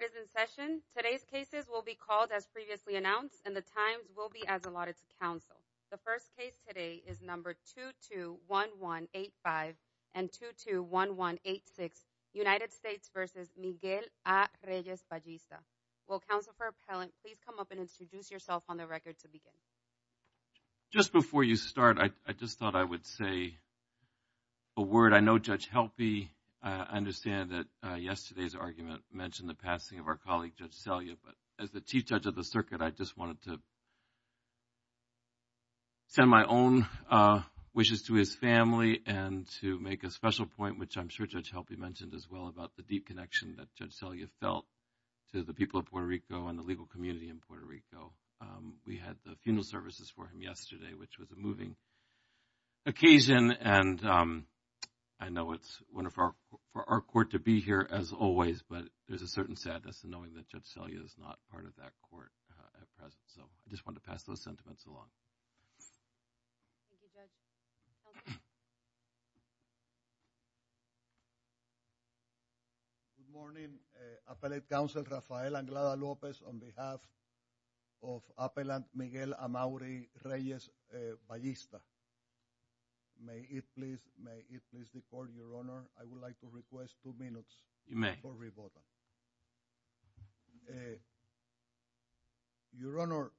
is in session. Today's cases will be called as previously announced and the times will be as allotted to counsel. The first case today is number 221185 and 221186 United States v. Miguel A. Reyes-Ballista. Will counsel for appellant please come up and introduce yourself on the record to begin. Just before you start I just thought I would say a word. I know Judge Helpe understand that yesterday's argument mentioned the passing of our colleague Judge Selya but as the Chief Judge of the circuit I just wanted to send my own wishes to his family and to make a special point which I'm sure Judge Helpe mentioned as well about the deep connection that Judge Selya felt to the people of Puerto Rico and the legal community in Puerto Rico. We had the funeral services for him yesterday which was a moving occasion and I know it's wonderful for our court to be here as always but there's a certain sadness in knowing that Judge Selya is not part of that court at present so I just want to pass those sentiments along. Good morning Appellate Counsel Rafael Anglada Lopez on behalf of Appellant may it please may it please the court your honor I would like to request two minutes. You may. Your honor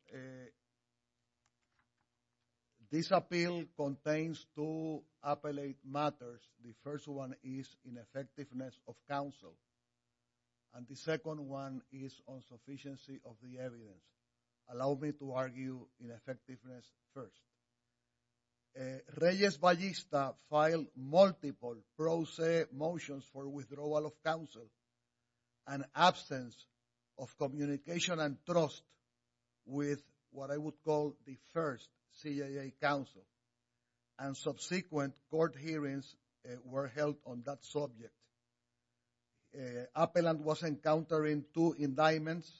this appeal contains two appellate matters. The first one is ineffectiveness of counsel and the second one is insufficiency of the evidence. Allow me to argue ineffectiveness first. Reyes Ballesta filed multiple motions for withdrawal of counsel and absence of communication and trust with what I would call the first CIA counsel and subsequent court hearings were held on that subject. Appellant was encountering two indictments,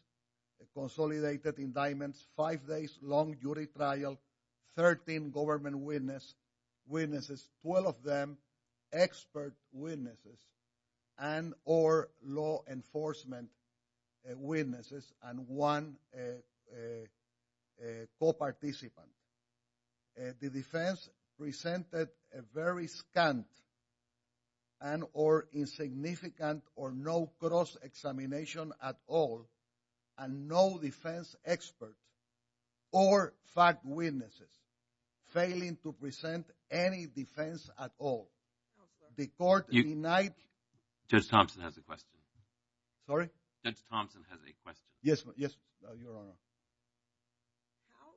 consolidated indictments, five days long jury trial, 13 government witnesses, 12 of them expert witnesses and or law enforcement witnesses and one co-participant. The defense presented a very scant and or insignificant or no cross examination at all and no defense experts or fact witnesses failing to present any defense at all. The court Judge Thompson has a question. Sorry? Judge Thompson has a question. Yes yes your honor. How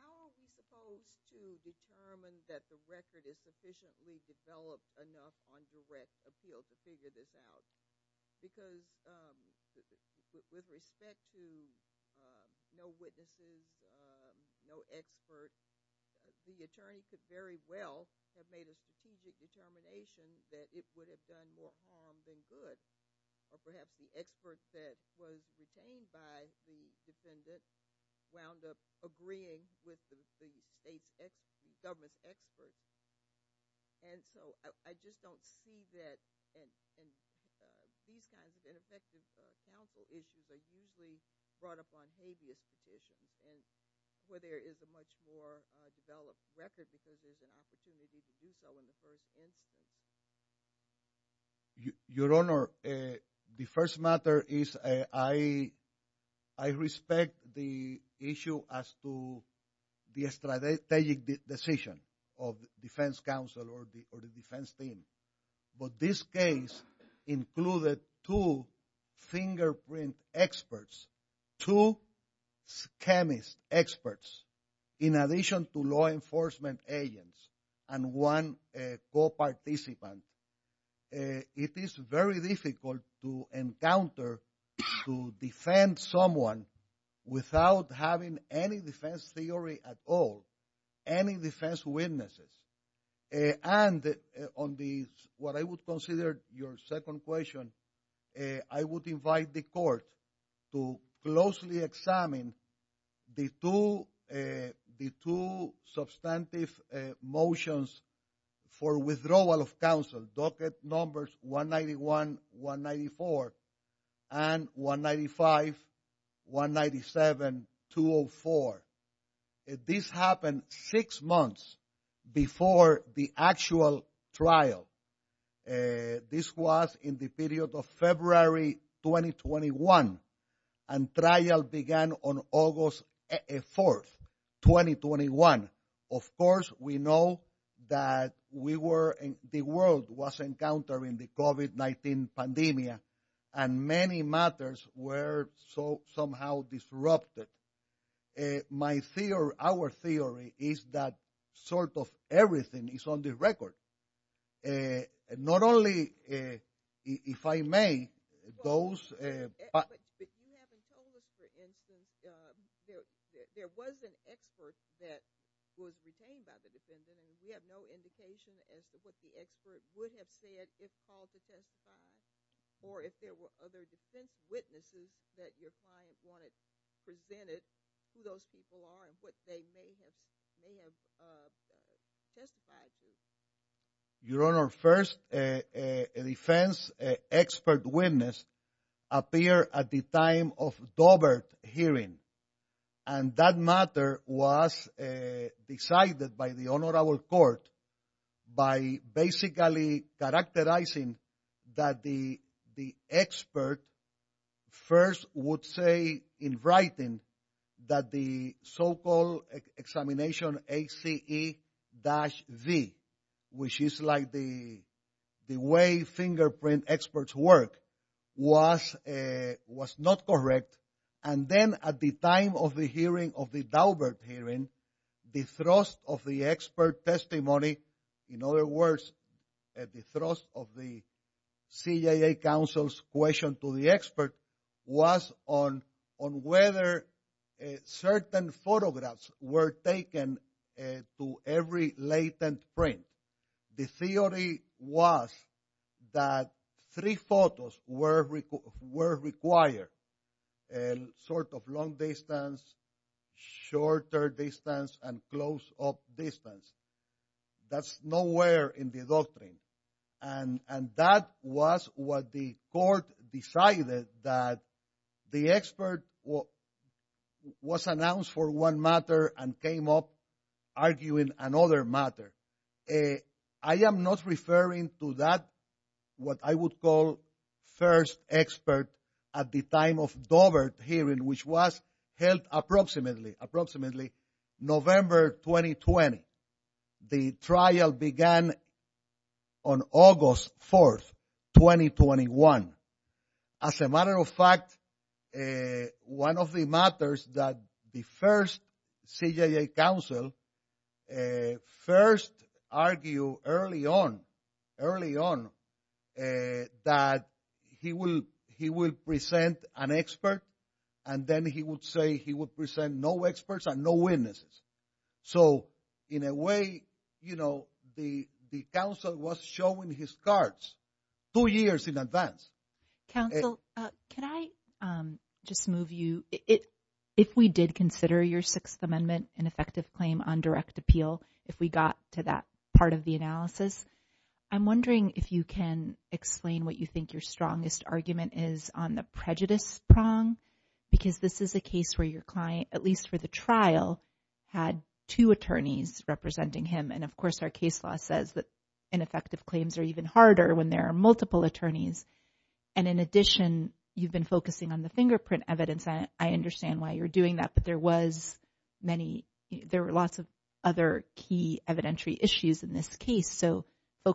how are we supposed to determine that the record is sufficiently developed enough on direct appeal to figure this out? Because with respect to no witnesses, no expert, the attorney could very well have made a strategic determination that it would have done more harm than good or perhaps the expert that was detained by the defendant wound up agreeing with the state's government's experts and so I just don't see that and these kinds of ineffective counsel issues are usually brought up on habeas conditions and where there is a much more developed record because there's an opportunity to do so in the first instance. Your honor, the first matter is I respect the issue as to the strategic decision of the defense counsel or the defense team but this case included two fingerprint experts, two chemist experts in addition to law enforcement agents and one co-participant. It is very difficult to encounter to defend someone without having any defense theory at all, any defense witnesses and on the what I would consider your second question, I would invite the court to closely examine the two substantive motions for withdrawal of counsel, docket numbers 191-194 and 195-197-204. This happened six months before the actual trial. This was in the period of 2021 and trial began on August 4th, 2021. Of course, we know that the world was encountering the COVID-19 pandemic and many matters were somehow disrupted. Our theory is that sort of everything is on the record. Not only if I may, those... But you haven't told us for instance, there was an expert that was retained by the defendant and we have no indication as to what the expert would have said if called to testify or if there were other defense witnesses that your client wanted presented to those people on what they may have testified to. Your Honor, first, a defense expert witness appeared at the time of Dobert hearing and that matter was decided by the honorable court by basically characterizing that the expert first would say in writing that the so-called examination HCE-V, which is like the way fingerprint experts work, was not correct. And then at the time of the hearing of the Dobert hearing, the thrust of the expert testimony, in other words, the thrust of the CJA counsel's to the expert was on whether certain photographs were taken to every latent print. The theory was that three photos were required, sort of long distance, shorter distance, and close up distance. That's nowhere in the doctrine. And that was what the court decided that the expert was announced for one matter and came up arguing another matter. I am not referring to that, what I would call first expert at the time of Dobert hearing, which was held approximately November 2020. The trial began on August 4th, 2021. As a matter of fact, one of the matters that the first CJA counsel first argued early on that he would present an expert and then he would say he would present no experts and no witnesses. So in a way, you know, the counsel was showing his cards two years in advance. Counsel, can I just move you, if we did consider your Sixth Amendment an effective claim on direct appeal, if we got to that part of the analysis, I'm wondering if you can explain what you think your strongest argument is on the prejudice prong, because this is a case where your client, at least for the trial, had two attorneys representing him. And of course, our case law says that ineffective claims are even harder when there are multiple attorneys. And in addition, you've been focusing on the fingerprint evidence. I understand why you're doing that, but there were lots of other key evidentiary issues in this case. So your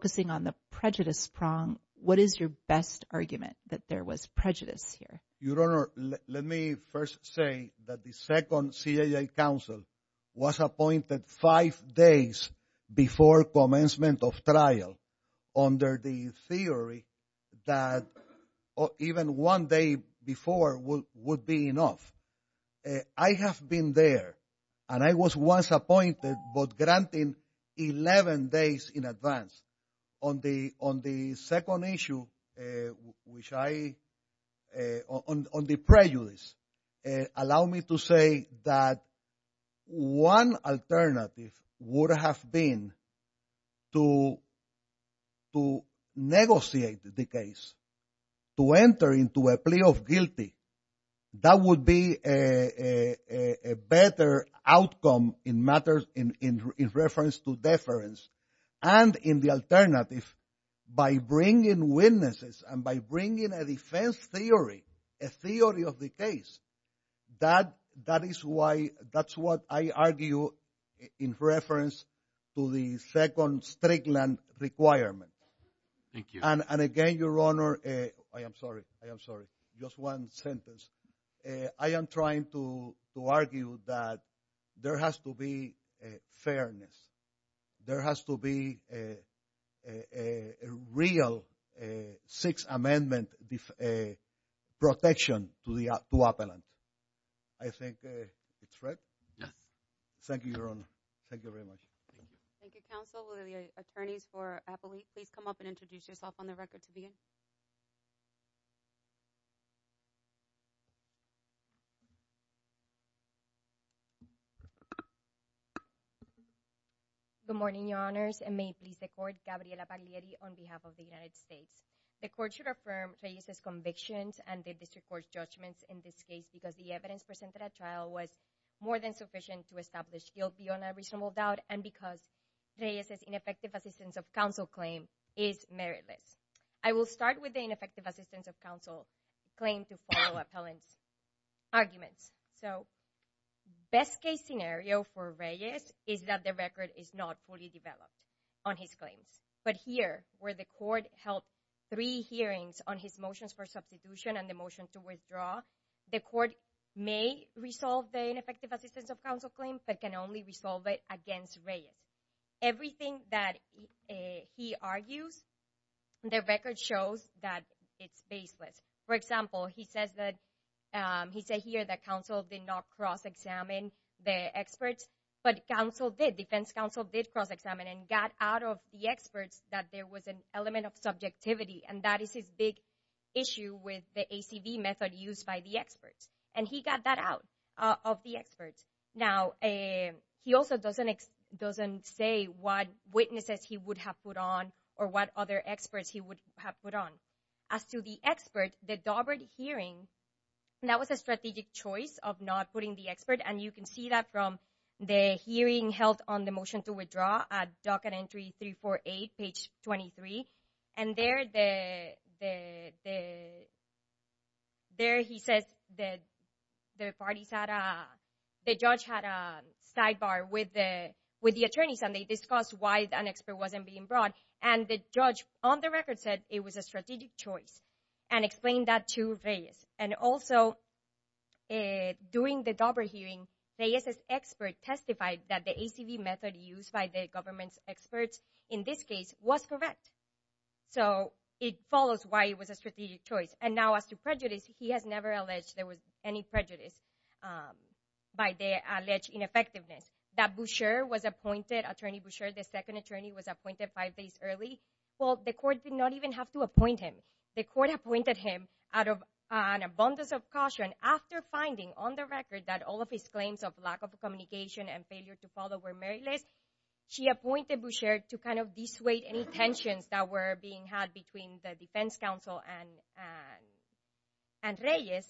best argument is that there was prejudice here. Your Honor, let me first say that the second CJA counsel was appointed five days before commencement of trial under the theory that even one day before would be enough. I have been there and I was once appointed, but granted 11 days in advance. On the second issue, which I, on the prejudice, allow me to say that one alternative would have been to negotiate the case, to enter into a plea of guilty. That would be a better outcome in reference to deference. And in the alternative, by bringing witnesses and by bringing a defense theory, a theory of the case, that is why, that's what I argue in reference to the second strict land requirement. And again, Your Honor, I am sorry, I am sorry, just one sentence. I am trying to argue that there has to be a fairness. There has to be a real Sixth Amendment protection to the appellant. I think it's right. Yes. Thank you, Your Honor. Thank you very much. Thank you, counsel. Will the attorneys for Appalachia please come up and introduce yourself on the record to begin? Good morning, Your Honors, and may it please the court, Gabriela Paglieri on behalf of the United States. The court should affirm Treyus' convictions and the district court's judgments in this case because the evidence presented at trial was more than sufficient to establish guilt beyond a reasonable doubt and because Treyus' ineffective assistance of counsel claim is meritless. I will start with the ineffective assistance of counsel claim to follow appellant's arguments. So, best case scenario for Treyus is that the record is not fully developed on his claims. But here, where the court held three hearings on his motions for substitution and the motion to withdraw, the court may resolve the ineffective assistance of counsel claim, but can only resolve it against Treyus. Everything that he argues, the record shows that it's baseless. For example, he says here that counsel did not cross-examine the experts, but defense counsel did cross-examine and got out of the experts that there was an element of subjectivity. And that is his big issue with the ACV method used by the experts. And he got that out of the experts. Now, he also doesn't say what witnesses he would have put on or what other experts he would have put on. As to the expert, the Daubert hearing, that was a strategic choice of not putting the expert. And you can see that from the hearing held on the motion to withdraw at docket entry 348, page 23. And there he says the judge had a sidebar with the attorneys and they discussed why an expert wasn't being brought. And the judge, on the record, said it was a strategic choice and explained that to Treyus. And also, during the Daubert hearing, Treyus's expert testified that the ACV method used by the government's experts in this case was correct. So, it follows why it was a strategic choice. And now, as to prejudice, he has never alleged there was any prejudice by the alleged ineffectiveness. That Boucher was appointed, Attorney Boucher, the second attorney, was appointed five days early. Well, the court did not even have to appoint him. The court appointed him out of an abundance of caution after finding on the record that all of his claims of lack of communication and failure to follow were meritless. She appointed Boucher to kind of dissuade any tensions that were being had between the defense counsel and Treyus.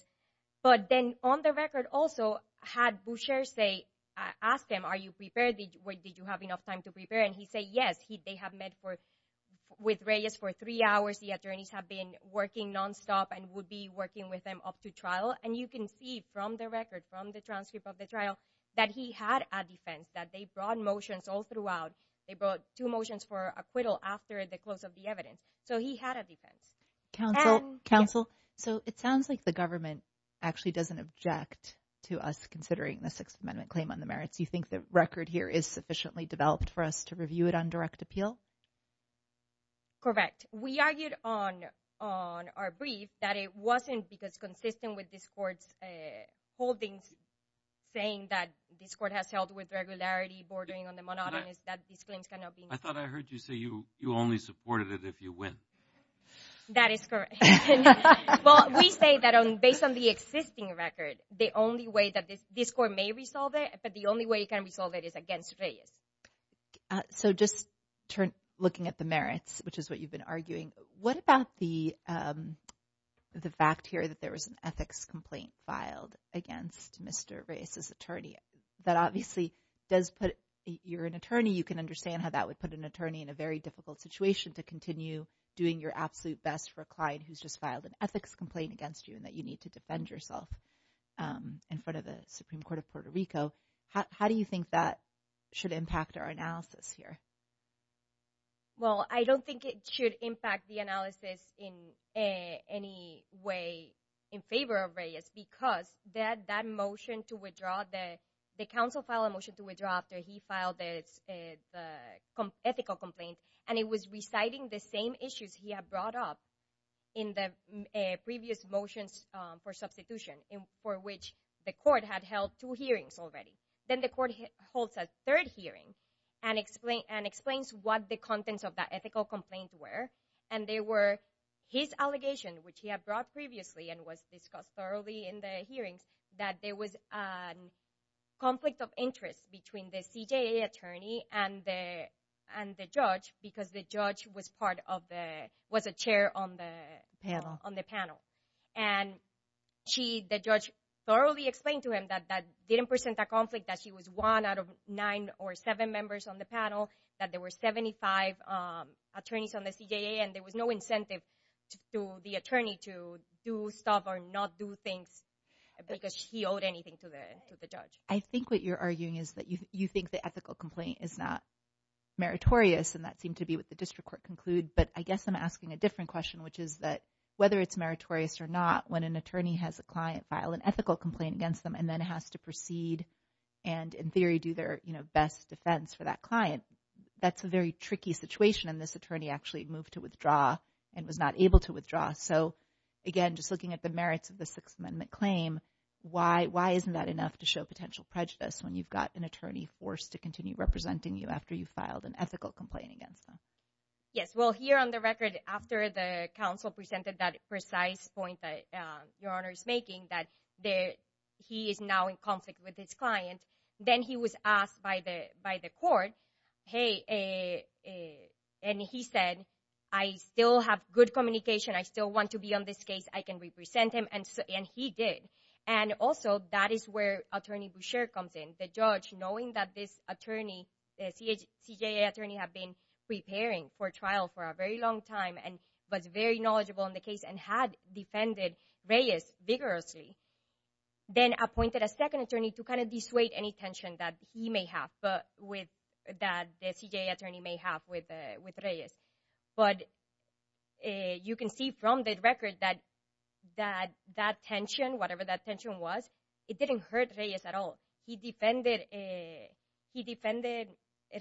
But then, on the record also, had Boucher asked him, are you prepared? Did you have enough time to prepare? And he said, yes. They have met with Treyus for three hours. The attorneys have been working nonstop and would be working with him up to trial. And you can see from the record, from the transcript of the trial, that he had a defense, that they brought motions all throughout. They brought two motions for acquittal after the close of the evidence. So, he had a defense. Counsel, counsel, so it sounds like the government actually doesn't object to us considering the Sixth Amendment claim on the merits. You think the record here is sufficiently developed for us to review it on direct appeal? Correct. We argued on our brief that it wasn't because consistent with this court's holdings saying that this court has held with regularity, bordering on the monotonous, that these claims cannot be. I thought I heard you say you only supported it if you win. That is correct. Well, we say that based on the existing record, the only way that this court may resolve it, but the only way it can resolve it is against Treyus. So, just looking at the merits, which is what you've been arguing, what about the fact here that there was an ethics complaint filed against Mr. Reyes's attorney? That obviously does put, you're an attorney, you can understand how that would put an attorney in a very difficult situation to continue doing your absolute best for a client who's just filed an ethics complaint against you and that you need to defend yourself in front of the Supreme Court of Puerto Rico. How do you think that should impact our analysis here? Well, I don't think it should impact the analysis in any way in favor of Reyes because that motion to withdraw, the counsel filed a motion to withdraw after he filed the ethical complaint and it was reciting the same issues he had brought up in the previous motions for substitution for which the court had held two hearings already. Then the court holds a third hearing and explains what the contents of that ethical complaint were and they were his allegation, which he had brought previously and was discussed thoroughly in the hearings, that there was a conflict of interest between the CJA attorney and the judge because the judge was part of the, was a chair on the panel. And she, the judge, thoroughly explained to him that that didn't present a conflict, that she was one out of nine or seven members on the panel, that there were 75 attorneys on the CJA and there was no incentive to the attorney to do stuff or not do things because he owed anything to the judge. I think what you're arguing is that you think the ethical complaint is not meritorious and that seemed to be what the district court conclude, but I guess I'm asking a different question, which is that whether it's meritorious or not, when an attorney has a client file an ethical complaint against them and then has to proceed and in theory do their, you know, best defense for that client, that's a very tricky situation and this attorney actually moved to withdraw and was not able to withdraw. So again, just looking at the merits of the Sixth Amendment claim, why isn't that enough to show potential prejudice when you've got an attorney forced to continue representing you after you filed an ethical complaint against them? Yes, well, here on the record, after the counsel presented that precise point that Your Honor is making, that there he is now in conflict with his client, then he was asked by the by the court, hey, and he said, I still have good communication, I still want to be on this case, I can represent him, and he did. And also that is where attorney Boucher comes in. The judge, knowing that this attorney, the CJA attorney had been preparing for trial for a very long time and was very knowledgeable in the case and had defended Reyes vigorously, then appointed a second attorney to kind of dissuade any tension that he may have with, that the CJA attorney may have with Reyes. But you can see from the record that that tension, whatever that tension was, it didn't hurt Reyes at all. He defended, he defended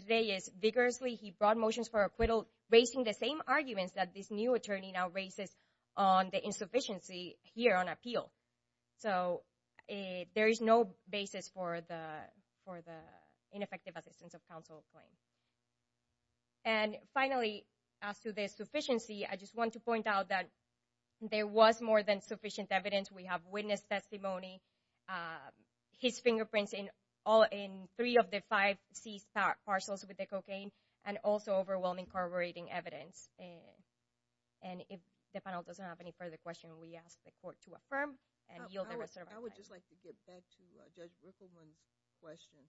Reyes vigorously, he brought motions for acquittal, raising the same arguments that this new attorney now raises on the insufficiency here on appeal. So there is no basis for the, for the ineffective assistance of counsel claim. And finally, as to the sufficiency, I just want to point out that there was more than sufficient evidence. We have witness testimony, his fingerprints in all, in three of the five seized parcels with the cocaine, and also overwhelming corroborating evidence. And if the panel doesn't have any further question, we ask the court to affirm and yield the reservation. I would just like to get back to Judge Rippleman's question.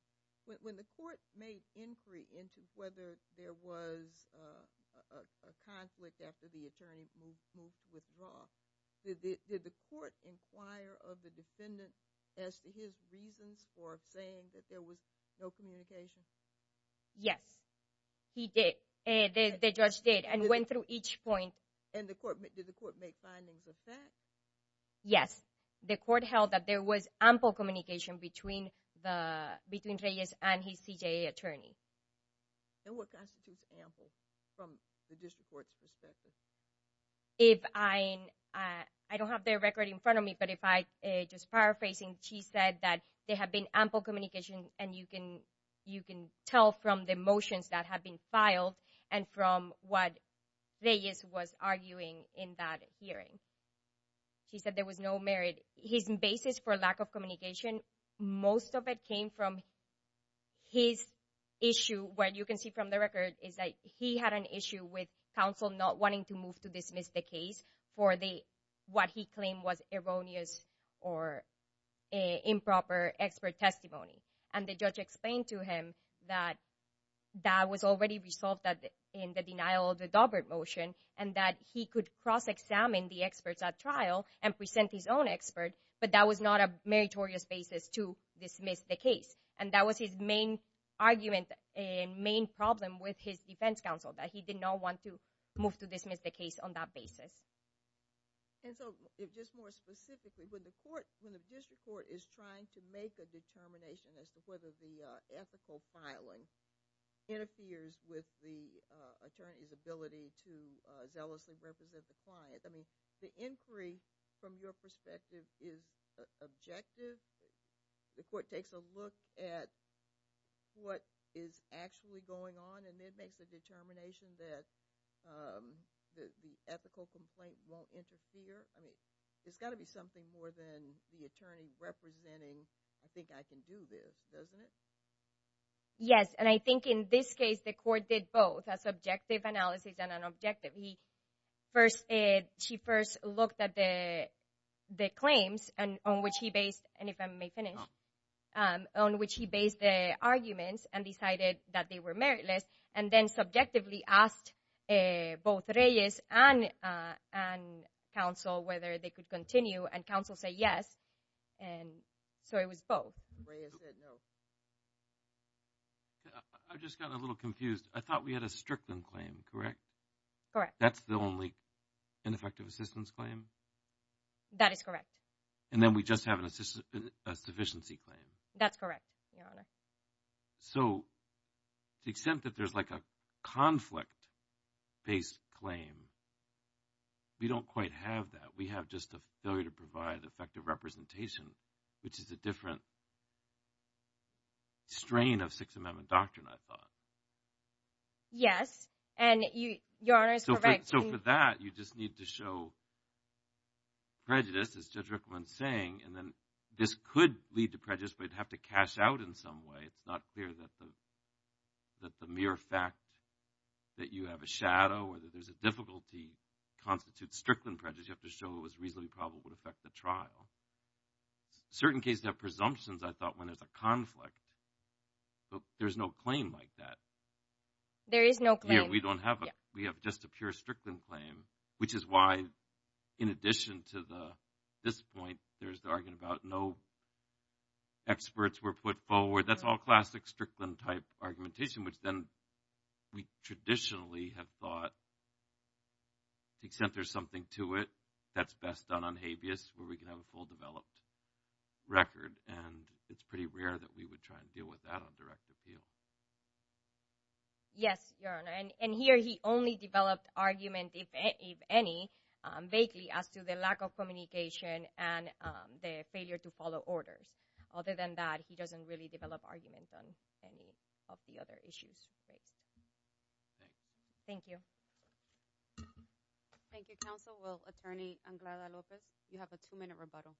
When the court made inquiry into whether there was a conflict after the attorney moved with Roth, did, did the court inquire of the defendant as to his reasons for saying that there was no communication? Yes, he did. The judge did and went through each point. And the court, did the court make findings of that? Yes, the court held that there was ample communication between the, between Reyes and his CJA attorney. And what constitutes ample from the district court's perspective? If I, I don't have their record in front of me, but if I, just paraphrasing, she said that there had been ample communication and you can, you can tell from the motions that have been filed and from what Reyes was arguing in that hearing. She said there was no merit. His basis for lack of communication, most of it came from his issue where you can see from the record is that he had an issue with counsel not wanting to move to dismiss the case for the, what he claimed was erroneous or improper expert testimony. And the judge explained to him that that was already resolved in the denial of the Daubert motion and that he could cross-examine the experts at trial and present his own expert, but that was not a meritorious basis to dismiss the case. And that was his main argument and main problem with his defense counsel, that he did not want to move to dismiss the case on that basis. And so, just more specifically, when the court, when the district court is trying to make a determination as to whether the ethical filing interferes with the attorney's ability to zealously represent the client, I mean, the inquiry from your perspective is objective? The court takes a look at what is actually going on and it makes a determination that the ethical complaint won't interfere? I mean, it's got to be something more than the attorney representing, I think I can do this, doesn't it? Yes, and I think in this case the court did both, a subjective analysis and an objective. He first, she first looked at the claims and on which he based, and if I may finish, on which he based the arguments and decided that they were meritless and then subjectively asked both Reyes and counsel whether they could continue and counsel said yes, and so it was both. I just got a little confused. I thought we had a Strickland claim, correct? Correct. That's the only ineffective assistance claim? That is correct. And then we just have a sufficiency claim? That's correct, Your Honor. So, the extent that there's like a conflict-based claim, we don't quite have that. We have just a failure to provide effective representation, which is a different strain of Sixth Amendment doctrine, I thought. Yes, and Your Honor is correct. So, for that, you just need to show prejudice, as Judge Rickland's saying, and then this could lead to prejudice, but you'd have to cash out in some way. It's not clear that the mere fact that you have a shadow or that there's a difficulty constitutes Strickland prejudice. You have to show it was reasonably probable to affect the trial. Certain cases have presumptions, I thought, when there's a conflict, but there's no claim like that. There is no claim. Yeah, we don't have a, we have just a pure Strickland claim, which is why, in addition to this point, there's the argument about no experts were put forward. That's all classic Strickland-type argumentation, which then we traditionally have thought, to the extent there's something to it, that's best done on where we can have a full developed record, and it's pretty rare that we would try and deal with that on direct appeal. Yes, Your Honor, and here he only developed argument, if any, vaguely as to the lack of communication and the failure to follow orders. Other than that, he doesn't really develop argument on any of the other issues. Thank you. Thank you, Counsel. Well, Attorney Anglada-Lopez, you have a two-minute rebuttal.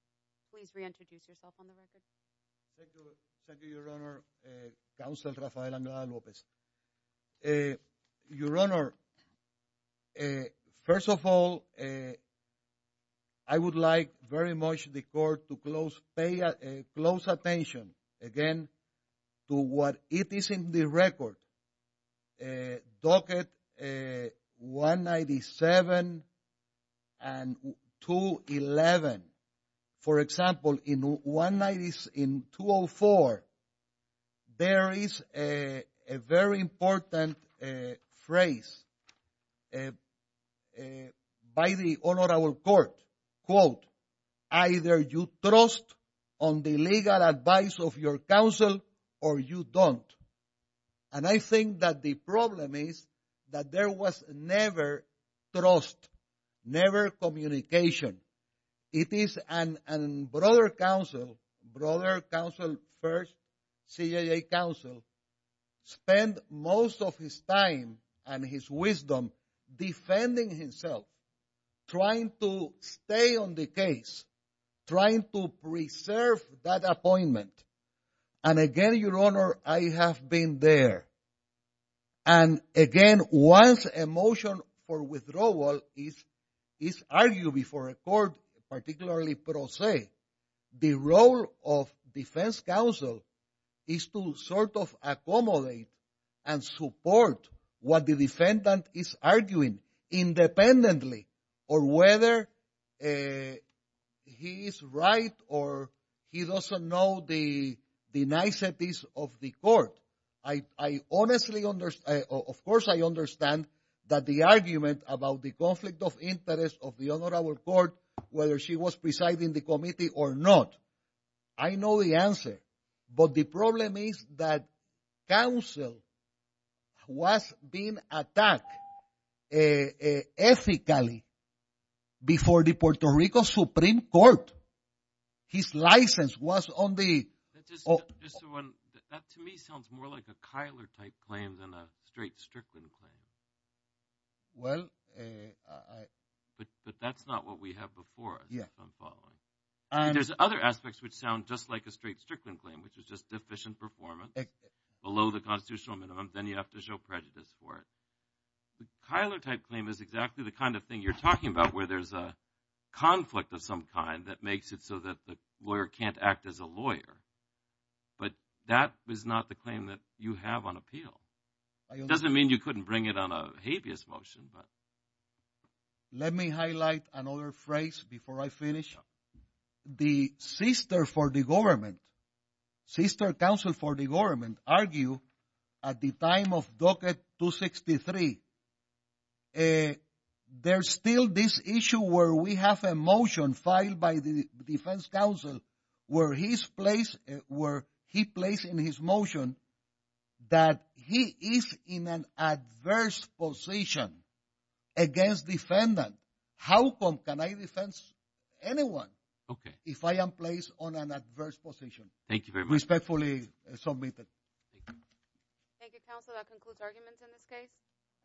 Please reintroduce yourself on the record. Thank you, Your Honor, Counsel Rafael Anglada-Lopez. Your Honor, first of all, I would like very much the court to pay close attention, again, to what it is in the record. A docket 197 and 211. For example, in 204, there is a very important phrase by the Honorable Court, quote, either you trust on the legal advice of your counsel or you don't. And I think that the problem is that there was never trust, never communication. It is a brother counsel, brother counsel first, CIA counsel, spend most of his time and his wisdom defending himself, trying to stay on the case, trying to preserve that appointment. And again, Your Honor, I have been there. And again, once a motion for withdrawal is argued before a court, particularly pro se, the role of defense counsel is to sort of accommodate and support what the defendant is arguing independently or whether he is right or he doesn't know the niceties of the court. I honestly, of course, I understand that the argument about the conflict of interest of the Honorable Court, whether she was presiding the committee or not, I know the answer. But the problem is that counsel was being attacked ethically before the Puerto Rico Supreme Court. His license was on the. That to me sounds more like a Kyler type claim than a straight Strickland claim. Well, but that's not what we have before. I'm following. There's other aspects which sound just like a straight Strickland claim, which is just deficient performance below the constitutional minimum. Then you have to show prejudice for it. The Kyler type claim is exactly the kind of thing you're talking about, where there's a conflict of some kind that makes it so that the lawyer can't act as a lawyer. But that is not the claim that you have on appeal. It doesn't mean you couldn't bring it on a habeas motion, but. Let me highlight another phrase before I finish. The sister for the government, sister counsel for the government argue at the time of Docket 263. There's still this issue where we have a motion filed by the defense counsel where his place, where he placed in his motion that he is in an adverse position against defendant. How can I defense anyone if I am placed on an adverse position? Thank you very respectfully. Thank you, counsel. That concludes arguments in this case.